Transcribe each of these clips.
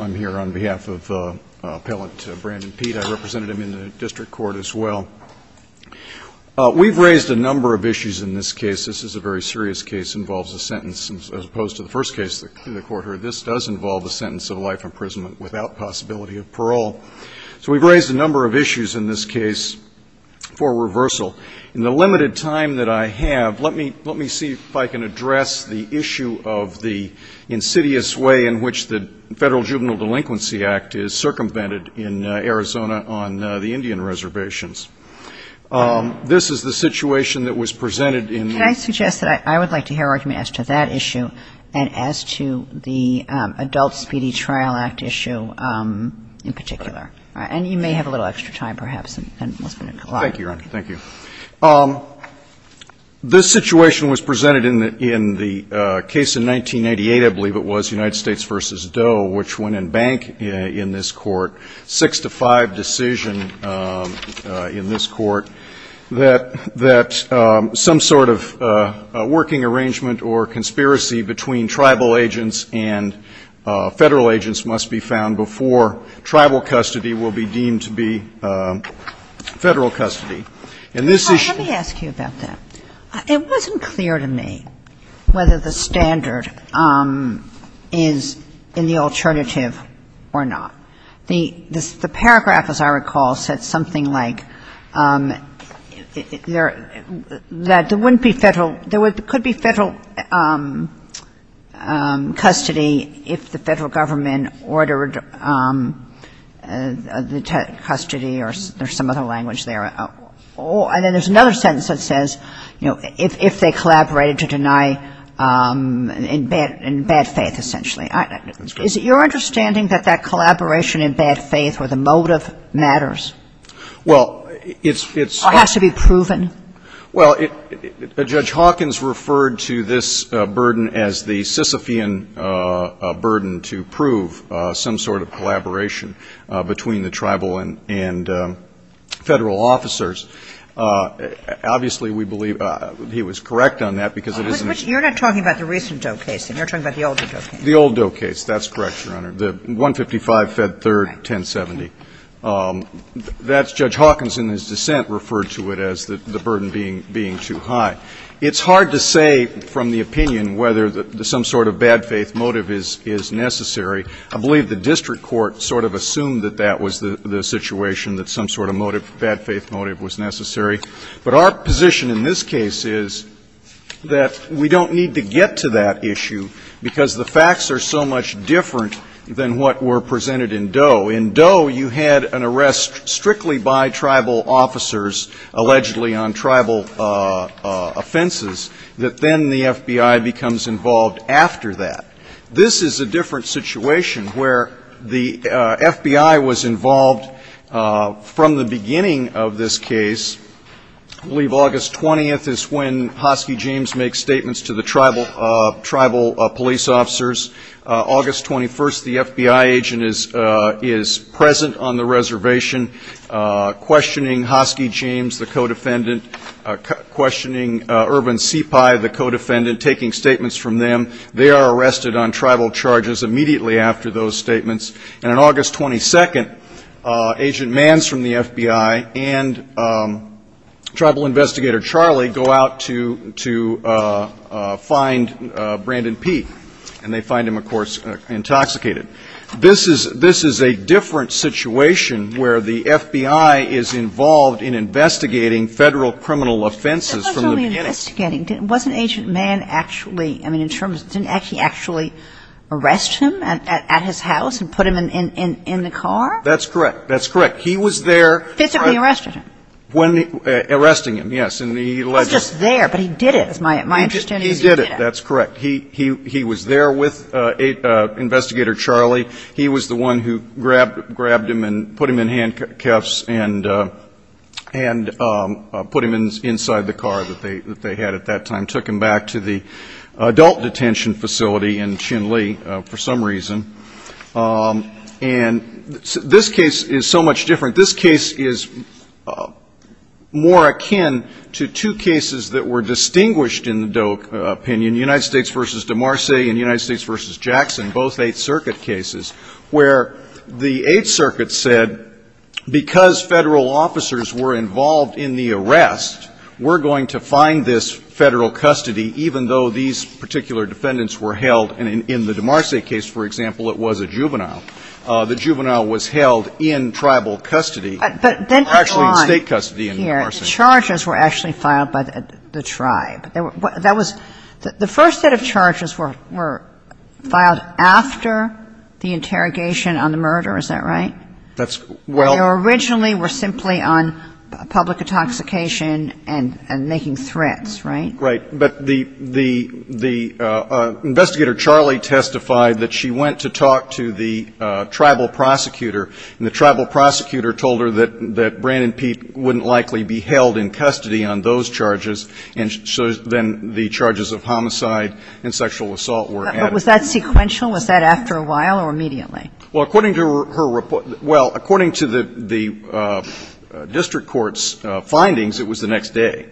I'm here on behalf of appellant Brandon Pete. I represented him in the district court as well. We've raised a number of issues in this case. This is a very serious case, involves a sentence, as opposed to the first case the court heard. This does involve the sentence of life imprisonment without possibility of parole. So we've raised a number of issues in this case for reversal. In the limited time that I have, let me see if I can address the issue of the insidious way in which the Federal Juvenile Delinquency Act is circumvented in Arizona on the Indian Reservations. This is the situation that was presented in the Can I suggest that I would like to hear an argument as to that issue and as to the Adult Speedy Trial Act issue in particular? And you may have a little extra time, perhaps, and we'll spend a couple of hours. Thank you, Your Honor. Thank you. This situation was presented in the case in 1988, I believe it was, United States v. Doe, which went in bank in this court, 6-5 decision in this court, that some sort of working arrangement or conspiracy between tribal agents and Federal agents must be found before tribal custody will be deemed to be Federal custody. And this issue Let me ask you about that. It wasn't clear to me whether the standard is in the alternative or not. The paragraph, as I recall, said something like that there wouldn't be Federal ‑‑ there could be Federal custody if the Federal government ordered the custody or some other language there. And then there's another sentence that says, you know, if they your understanding that that collaboration in bad faith or the motive matters? Well, it's Or has to be proven? Well, Judge Hawkins referred to this burden as the Sisyphean burden to prove some sort of collaboration between the tribal and Federal officers. Obviously, we believe he was correct on that because it isn't You're not talking about the recent Doe case. You're talking about the older Doe case. The old Doe case. That's correct, Your Honor. The 155 Fed 3rd, 1070. That's Judge Hawkins in his dissent referred to it as the burden being too high. It's hard to say from the opinion whether some sort of bad faith motive is necessary. I believe the district court sort of assumed that that was the situation, that some sort of motive, bad faith motive was necessary. But our position in this case is that we don't need to get to that issue because the facts are so much different than what were presented in Doe. In Doe, you had an arrest strictly by tribal officers, allegedly on tribal offenses, that then the FBI becomes involved after that. This is a different situation where the FBI was involved from the beginning of this case. I believe August 20th is when Hoski James makes statements to the tribal police officers. August 21st, the FBI agent is present on the reservation questioning Hoski James, the co-defendant, questioning Irvin Sepai, the co-defendant, taking statements from them. They are arrested on tribal charges immediately after those statements. And on and tribal investigator Charlie go out to find Brandon Peete. And they find him, of course, intoxicated. This is a different situation where the FBI is involved in investigating Federal criminal offenses from the beginning. It wasn't only investigating. Wasn't Agent Mann actually, I mean, didn't he actually arrest him at his house and put him in the car? That's correct. That's correct. He was there. Physically arrested him? Arresting him, yes. He was just there, but he did it. My understanding is he did it. He did it. That's correct. He was there with investigator Charlie. He was the one who grabbed him and put him in handcuffs and put him inside the car that they had at that time, took him back to the adult detention facility in Chinle for some reason. And this case is so much different. This case is more akin to two cases that were distinguished in the Doe opinion, United States v. De Marse and United States v. Jackson, both Eighth Circuit cases, where the Eighth Circuit said, because Federal officers were involved in the arrest, we're going to find this Federal custody, even though these particular defendants were held. And in the De Marse case, for example, it was a juvenile. The juvenile was held in tribal custody. But then to go on here, the charges were actually filed by the tribe. That was the first set of charges were filed after the interrogation on the murder, is that right? That's well They were originally were simply on public intoxication and making threats, right? Right. But the investigator, Charlie, testified that she went to talk to the tribal prosecutor, and the tribal prosecutor told her that Brandon Peete wouldn't likely be held in custody on those charges, and so then the charges of homicide and sexual assault were added. But was that sequential? Was that after a while or immediately? Well, according to her report – well, according to the district court's findings, it was the next day.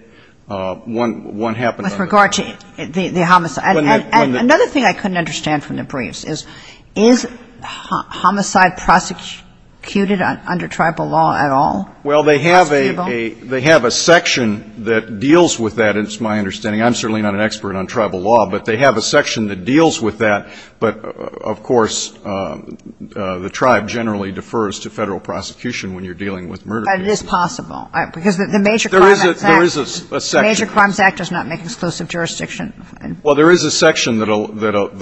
One happened on the – With regard to the homicide. And another thing I couldn't understand from the briefs is, is homicide prosecuted under tribal law at all? Well, they have a section that deals with that. It's my understanding. I'm certainly not an expert on tribal law, but they have a section that deals with that. But, of course, the tribe generally defers to Federal prosecution when you're dealing with murder cases. But it is possible, because the Major Crimes Act does not make exclusive jurisdiction. Well, there is a section that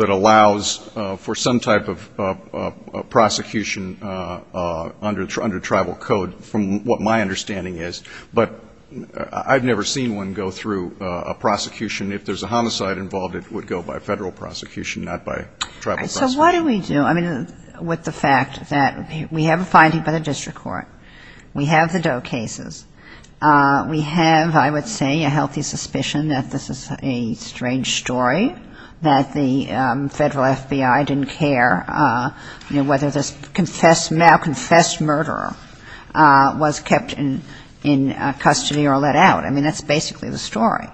allows for some type of prosecution under tribal code, from what my understanding is. But I've never seen one go through a prosecution – if there's a homicide involved, it would go by Federal prosecution, not by tribal prosecution. So what do we do? I mean, with the fact that we have a finding by the district court, we have the Doe cases, we have, I would say, a healthy suspicion that this is a strange story, that the Federal FBI didn't care, you know, whether this confessed – now-confessed murderer was kept in custody or let out. I mean, that's basically the story,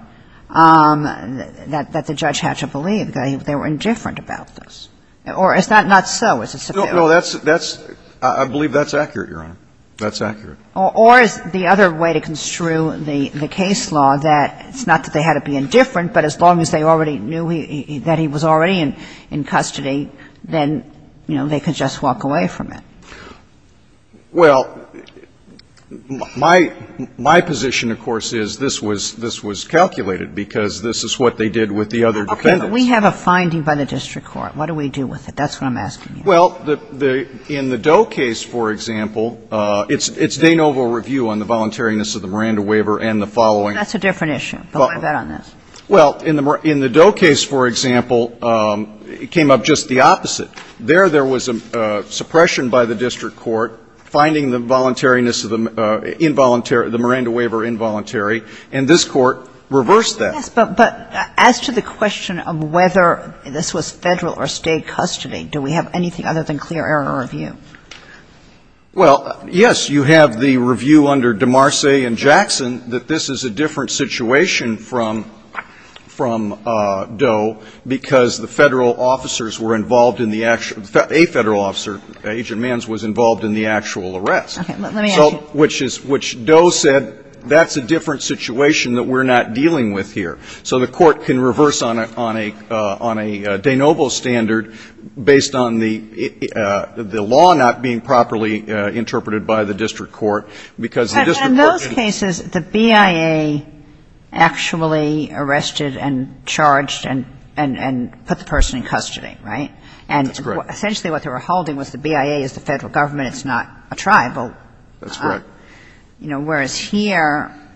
that the judge had to believe that they were indifferent about this. Or is that not so? Is it superior? No, that's – I believe that's accurate, Your Honor. That's accurate. Or is the other way to construe the case law that it's not that they had to be indifferent, but as long as they already knew that he was already in custody, then, you know, they could just walk away from it? Well, my position, of course, is this was calculated, because this is what they did with the other defendants. Okay. But we have a finding by the district court. What do we do with it? That's what I'm asking you. Well, the – in the Doe case, for example, it's Danova review on the voluntariness of the Miranda waiver and the following. That's a different issue, but we'll leave that on this. Well, in the – in the Doe case, for example, it came up just the opposite. There, there was a suppression by the district court, finding the voluntariness of the involuntary – the Miranda waiver involuntary, and this Court reversed that. Yes, but as to the question of whether this was Federal or State custody, do we have anything other than clear error review? Well, yes, you have the review under DeMarce and Jackson that this is a different situation from – from Doe, because the Federal officers were involved in the – a Federal officer, Agent Manns, was involved in the actual arrest. Okay. Let me ask you. So – which is – which Doe said, that's a different situation that we're not dealing with here. So the Court can reverse on a – on a – on a Danova standard based on the – the law not being properly interpreted by the district court, because the district court can't do that. But in those cases, the BIA actually arrested and charged and – and put the person in custody, right? That's correct. And essentially what they were holding was the BIA is the Federal government. It's not a tribal. That's correct. So, you know, whereas here –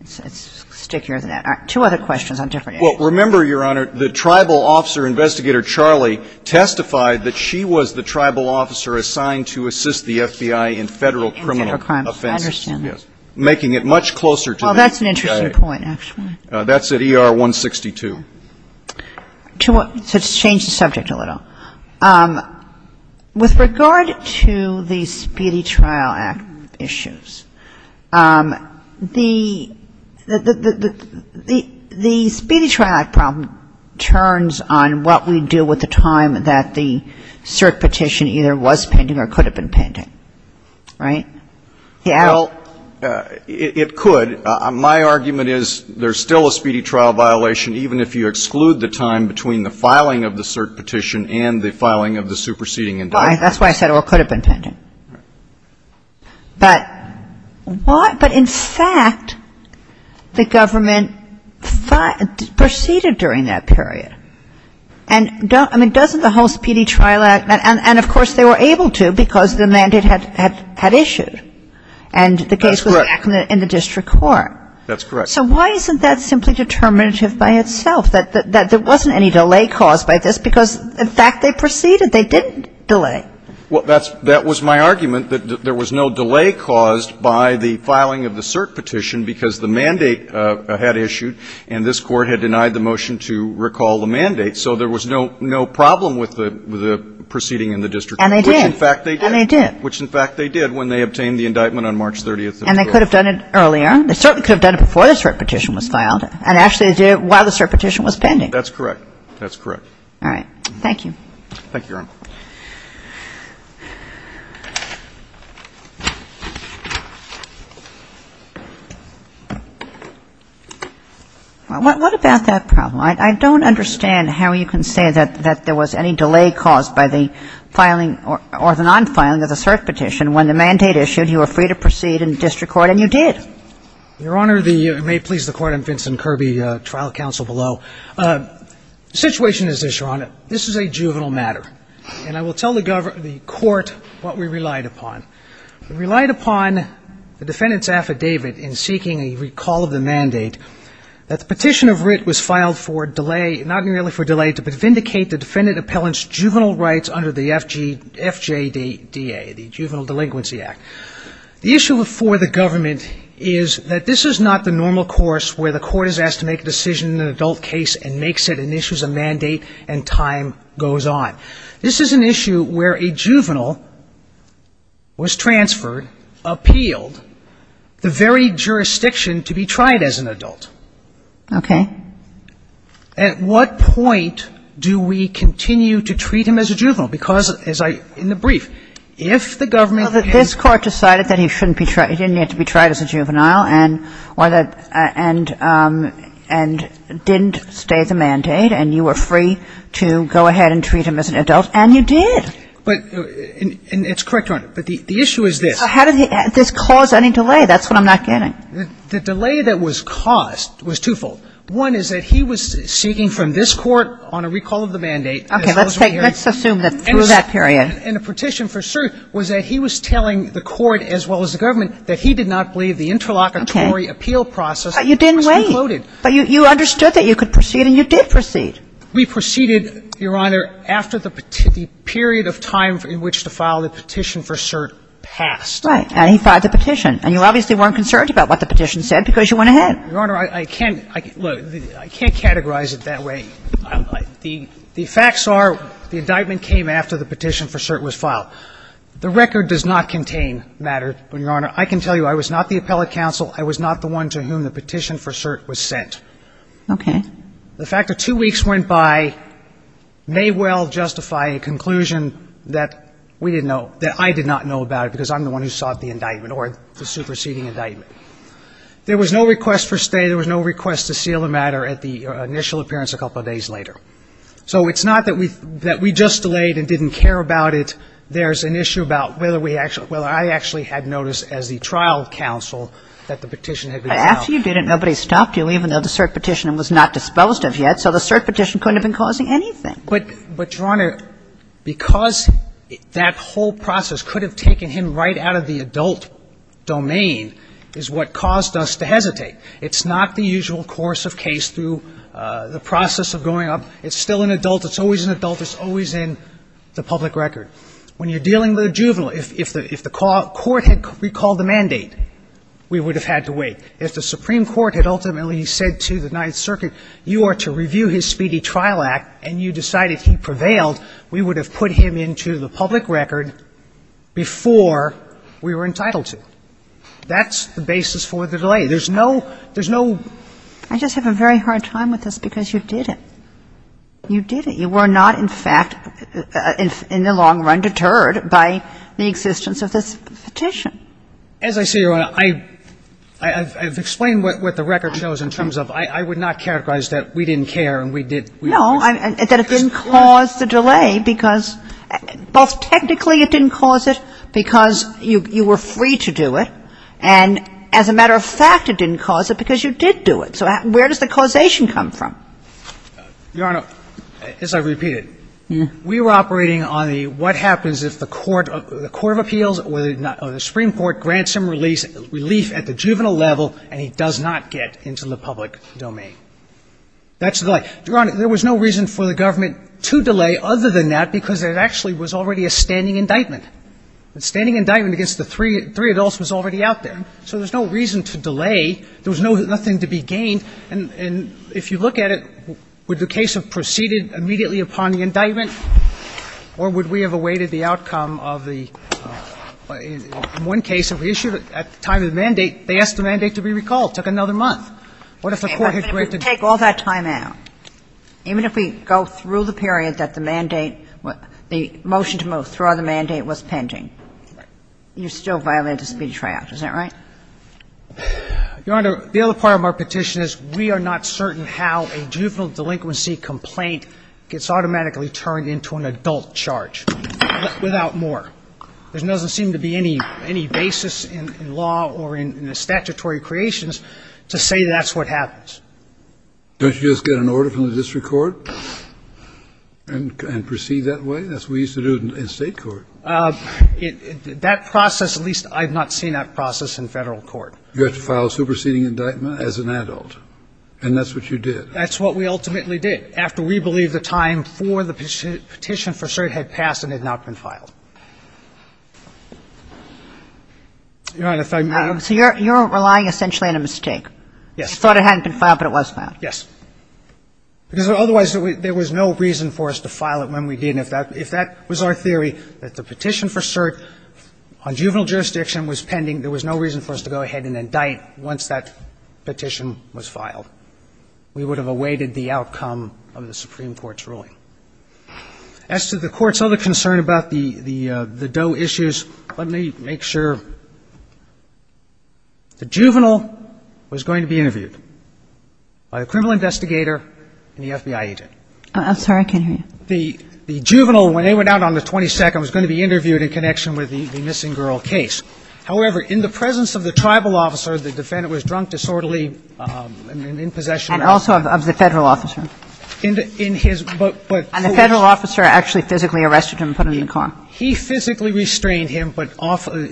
let's stick here with that. Two other questions on different issues. Well, remember, Your Honor, the tribal officer, Investigator Charlie, testified that she was the tribal officer assigned to assist the FBI in Federal criminal offenses. I understand that. Yes. Making it much closer to the BIA. Well, that's an interesting point, actually. That's at ER 162. So let's change the subject a little. With regard to the Speedy Trial Act issues, the – the – the Speedy Trial Act problem turns on what we do with the time that the cert petition either was pending or could have been pending, right? Well, it could. My argument is there's still a Speedy Trial violation even if you exclude the time between the filing of the cert petition and the filing of the superseding indictment. Well, that's why I said it could have been pending. But what – but, in fact, the government proceeded during that period. And don't – I mean, doesn't the whole Speedy Trial Act – and, of course, they were able to because the mandate had – had – had issued. And the case was – That's correct. In the district court. That's correct. So why isn't that simply determinative by itself, that – that there wasn't any delay caused by this because, in fact, they proceeded? They didn't delay. Well, that's – that was my argument, that there was no delay caused by the filing of the cert petition because the mandate had issued and this Court had denied the motion to recall the mandate. So there was no – no problem with the – with the proceeding in the district court. And they did. Which, in fact, they did. And they did. Which, in fact, they did when they obtained the indictment on March 30th of 2012. And they could have done it earlier. They certainly could have done it before the cert petition was filed. And, actually, they did it while the cert petition was pending. That's correct. That's correct. All right. Thank you. Thank you, Your Honor. Well, what – what about that problem? I – I don't understand how you can say that – that there was any delay caused by the filing or – or the non-filing of the cert petition when the mandate issued. You were free to proceed in the district court. And you did. Your Honor, the – and may it please the Court, I'm Vincent Kirby, trial counsel below. The situation is this, Your Honor. This is a juvenile matter. And I will tell the – the Court what we relied upon. We relied upon the defendant's affidavit in seeking a recall of the mandate that the petition of writ was filed for delay – not merely for delay to vindicate the defendant appellant's juvenile rights under the FG – FJDA, the Juvenile Delinquency Act. The issue before the government is that this is not the normal course where the Court is asked to make a decision in an adult case and makes it and issues a mandate and time goes on. This is an issue where a juvenile was transferred, appealed, the very jurisdiction to be tried as an adult. Okay. At what point do we continue to treat him as a juvenile? Because, as I – in the brief, if the government has – The Court decided that he shouldn't be – he didn't need to be tried as a juvenile and – or that – and didn't stay the mandate and you were free to go ahead and treat him as an adult and you did. But – and it's correct, Your Honor. But the issue is this. How did this cause any delay? That's what I'm not getting. The delay that was caused was twofold. One is that he was seeking from this Court on a recall of the mandate. Okay. Let's take – let's assume that through that period. And the petition for cert was that he was telling the Court as well as the government that he did not believe the interlocutory appeal process was concluded. But you didn't wait. But you understood that you could proceed and you did proceed. We proceeded, Your Honor, after the period of time in which to file the petition for cert passed. Right. And he filed the petition. And you obviously weren't concerned about what the petition said because you went ahead. Your Honor, I can't – look, I can't categorize it that way. The facts are the indictment came after the petition for cert was filed. The record does not contain matter, Your Honor. I can tell you I was not the appellate counsel. I was not the one to whom the petition for cert was sent. Okay. The fact that two weeks went by may well justify a conclusion that we didn't know – that I did not know about it because I'm the one who sought the indictment or the superseding indictment. There was no request for stay. There was no request to seal the matter at the initial appearance a couple of days later. So it's not that we – that we just delayed and didn't care about it. There's an issue about whether we – whether I actually had notice as the trial counsel that the petition had been filed. But after you did it, nobody stopped you, even though the cert petition was not disposed of yet. So the cert petition couldn't have been causing anything. But, Your Honor, because that whole process could have taken him right out of the adult domain is what caused us to hesitate. It's not the usual course of case through the process of going up. It's still an adult. It's always an adult. It's always in the public record. When you're dealing with a juvenile, if the – if the court had recalled the mandate, we would have had to wait. If the Supreme Court had ultimately said to the Ninth Circuit, you are to review his speedy trial act and you decided he prevailed, we would have put him into the public record before we were entitled to. That's the basis for the delay. There's no – there's no – I just have a very hard time with this because you did it. You did it. You were not, in fact, in the long run, deterred by the existence of this petition. As I say, Your Honor, I – I've explained what the record shows in terms of I would not characterize that we didn't care and we did – No, that it didn't cause the delay because – both technically it didn't cause it because you were free to do it. And as a matter of fact, it didn't cause it because you did do it. So where does the causation come from? Your Honor, as I've repeated, we were operating on the what happens if the court – the court of appeals or the Supreme Court grants him relief at the juvenile level and he does not get into the public domain. That's the – Your Honor, there was no reason for the government to delay other than that because it actually was already a standing indictment. The standing indictment against the three adults was already out there. So there's no reason to delay. There was no – nothing to be gained. And if you look at it, would the case have proceeded immediately upon the indictment or would we have awaited the outcome of the – in one case, if we issued it at the time of the mandate, they asked the mandate to be recalled. It took another month. What if the court had granted – Okay. But if we take all that time out, even if we go through the period that the mandate – the motion to withdraw the mandate was pending? Right. You're still violating the speedy tryout. Is that right? Your Honor, the other part of my petition is we are not certain how a juvenile delinquency complaint gets automatically turned into an adult charge without more. There doesn't seem to be any basis in law or in statutory creations to say that's what happens. Don't you just get an order from the district court and proceed that way? That's what we used to do in state court. That process – at least I've not seen that process in federal court. You have to file a superseding indictment as an adult. And that's what you did. That's what we ultimately did after we believed the time for the petition for cert had passed and had not been filed. Your Honor, if I may – So you're relying essentially on a mistake. Yes. You thought it hadn't been filed, but it was filed. Yes. Because otherwise there was no reason for us to file it when we didn't. If that was our theory, that the petition for cert on juvenile jurisdiction was pending, there was no reason for us to go ahead and indict once that petition was filed. We would have awaited the outcome of the Supreme Court's ruling. As to the Court's other concern about the Doe issues, let me make sure. The juvenile was going to be interviewed by the criminal investigator and the FBI agent. I'm sorry. I can't hear you. The juvenile, when they went out on the 22nd, was going to be interviewed in connection with the missing girl case. However, in the presence of the tribal officer, the defendant was drunk, disorderly, and in possession of alcohol. And also of the federal officer. In his – but – And the federal officer actually physically arrested him and put him in the car. He physically restrained him, but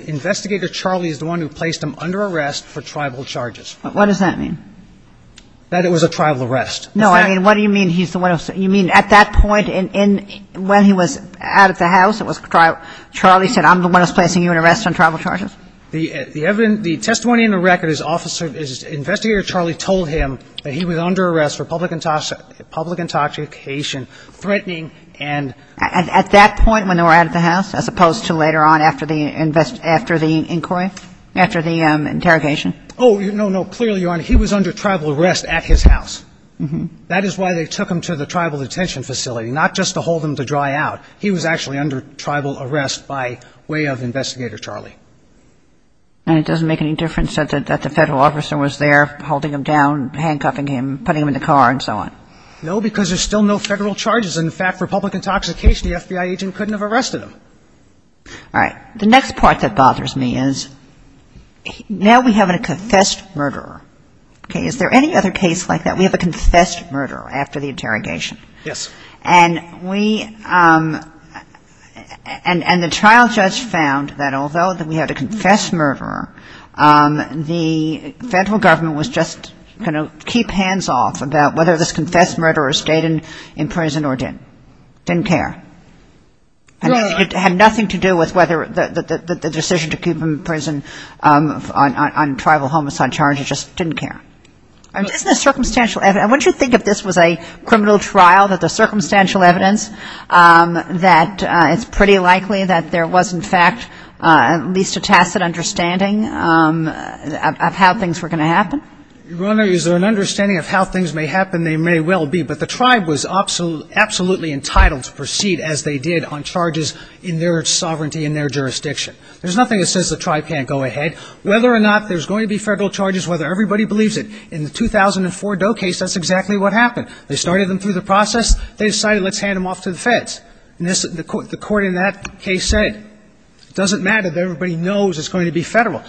investigator Charlie is the one who placed him under arrest for tribal charges. What does that mean? That it was a tribal arrest. No, I mean, what do you mean he's the one who – you mean at that point when he was out of the house, it was – Charlie said, I'm the one who's placing you in arrest on tribal charges? The testimony in the record is investigator Charlie told him that he was under arrest for public intoxication, threatening, and – At that point when they were out of the house? As opposed to later on after the inquiry? After the interrogation? Oh, no, no. Clearly, Your Honor, he was under tribal arrest at his house. That is why they took him to the tribal detention facility. Not just to hold him to dry out. He was actually under tribal arrest by way of investigator Charlie. And it doesn't make any difference that the federal officer was there holding him down, handcuffing him, putting him in the car, and so on? No, because there's still no federal charges. In fact, for public intoxication, the FBI agent couldn't have arrested him. All right. The next part that bothers me is now we have a confessed murderer. Is there any other case like that? We have a confessed murderer after the interrogation. Yes. And we – and the trial judge found that although we had a confessed murderer, the federal government was just going to keep hands off about whether this was a crime or not. Didn't care. It had nothing to do with whether the decision to keep him in prison on tribal homicide charges. Just didn't care. Isn't this circumstantial evidence? Wouldn't you think if this was a criminal trial that the circumstantial evidence that it's pretty likely that there was, in fact, at least a tacit understanding of how things were going to happen? Your Honor, is there an understanding of how things may happen? They may well be. But the tribe was absolutely entitled to proceed as they did on charges in their sovereignty and their jurisdiction. There's nothing that says the tribe can't go ahead. Whether or not there's going to be federal charges, whether everybody believes it, in the 2004 Doe case, that's exactly what happened. They started them through the process. They decided, let's hand them off to the feds. And the court in that case said, it doesn't matter that everybody knows it's going to be federal.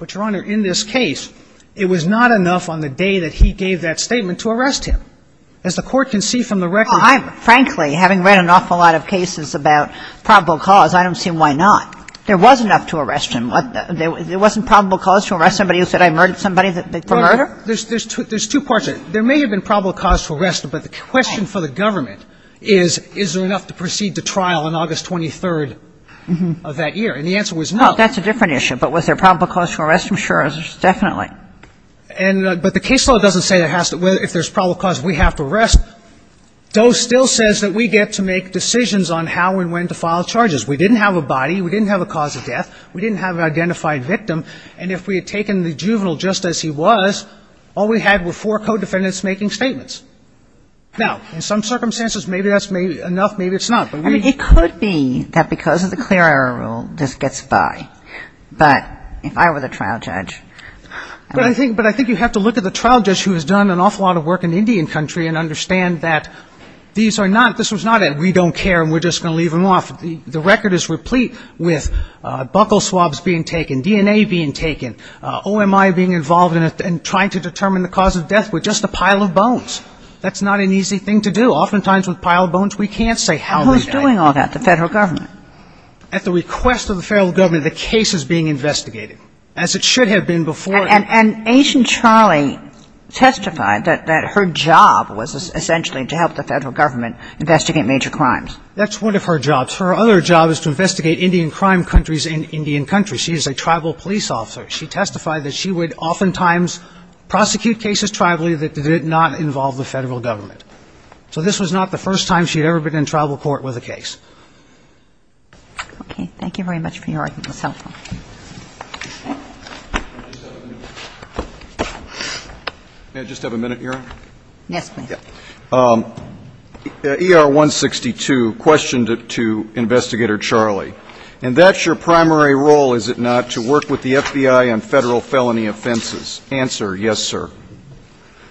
But, Your Honor, in this case, it was not enough on the day that he gave that statement to arrest him. As the court can see from the record... Frankly, having read an awful lot of cases about probable cause, I don't see why not. There was enough to arrest him. There wasn't probable cause to arrest somebody who said, I murdered somebody for murder? There's two parts. There may have been probable cause to arrest him, but the question for the government is, is there enough to proceed to trial on August 23rd of that year? And the answer was no. That's a different issue. But was there probable cause to arrest him? Sure. Definitely. But the case law doesn't say if there's probable cause, we have to arrest. DOE still says that we get to make decisions on how and when to file charges. We didn't have a body. We didn't have a cause of death. We didn't have an identified victim. And if we had taken the juvenile just as he was, all we had were four co-defendants making statements. Now, in some circumstances, maybe that's enough, maybe it's not. It could be that because of the clear error rule, this gets by. But if I were the trial judge, But I think you have to look at the trial judge who has done an awful lot of work in Indian country and understand that this was not a we don't care and we're just going to leave him off. The record is replete with buckle swabs being taken, DNA being taken, OMI being involved in trying to determine the cause of death with just a pile of bones. That's not an easy thing to do. Oftentimes with a pile of bones, we can't say how we did it. Who's doing all that? The federal government? At the request of the federal government, the case is being investigated. As it should have been before. And Agent Charlie testified that her job was essentially to help the federal government investigate major crimes. That's one of her jobs. Her other job is to investigate Indian crime countries in Indian country. She is a tribal police officer. She testified that she would oftentimes prosecute cases tribally that did not involve the federal government. So this was not the first time she had ever been in tribal court with a case. Okay. Thank you very much for your time. May I just have a minute, Your Honor? Yes, please. ER-162 questioned to Investigator Charlie. And that's your primary role, is it not, to work with the FBI on federal felony offenses? Answer, yes, sir.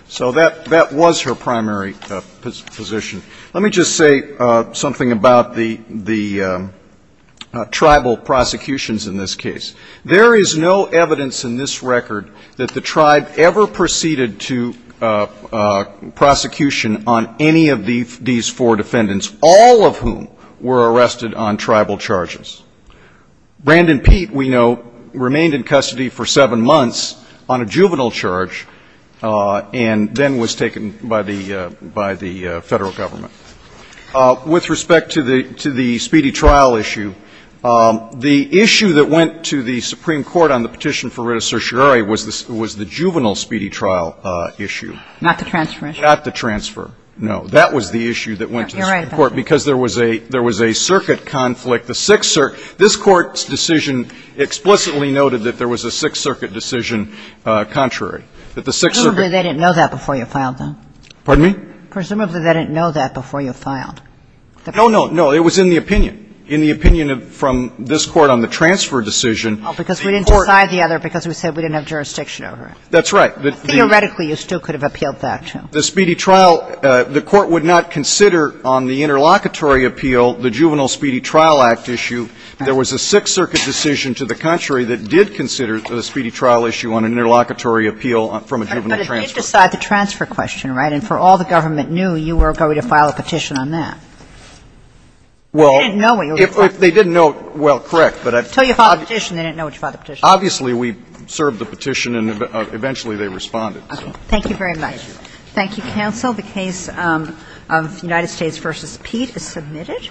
So that was her primary position. Let me just say something about the tribal prosecutions in this case. There is no evidence in this record that the tribe ever proceeded to prosecution on any of these four defendants, all of whom were arrested on tribal charges. Brandon Pete, we know, remained in custody for seven months on a juvenile charge and then was taken by the federal government. With respect to the speedy trial issue, the issue that went to the Supreme Court on the petition for writ of certiorari was the juvenile speedy trial issue. Not the transfer issue. Not the transfer. No, that was the issue that went to the Supreme Court because there was a circuit conflict. This Court's decision explicitly noted that there was a Sixth Circuit decision contrary. Presumably they didn't know that before you filed them. Pardon me? Presumably they didn't know that before you filed. No, no, no. It was in the opinion, in the opinion from this Court on the transfer decision. Because we didn't decide the other because we said we didn't have jurisdiction over it. That's right. Theoretically, you still could have appealed that, too. The speedy trial, the Court would not consider on the interlocutory appeal the juvenile speedy trial act issue. There was a Sixth Circuit decision to the contrary that did consider the speedy trial issue on an interlocutory appeal from a juvenile transfer. But it did decide the transfer question, right? And for all the government knew, you were going to file a petition on that. Well, if they didn't know, well, correct. Until you filed the petition, they didn't know until you filed the petition. Obviously, we served the petition and eventually they responded. Thank you very much. Thank you, counsel. The case of United States v. Pete is submitted.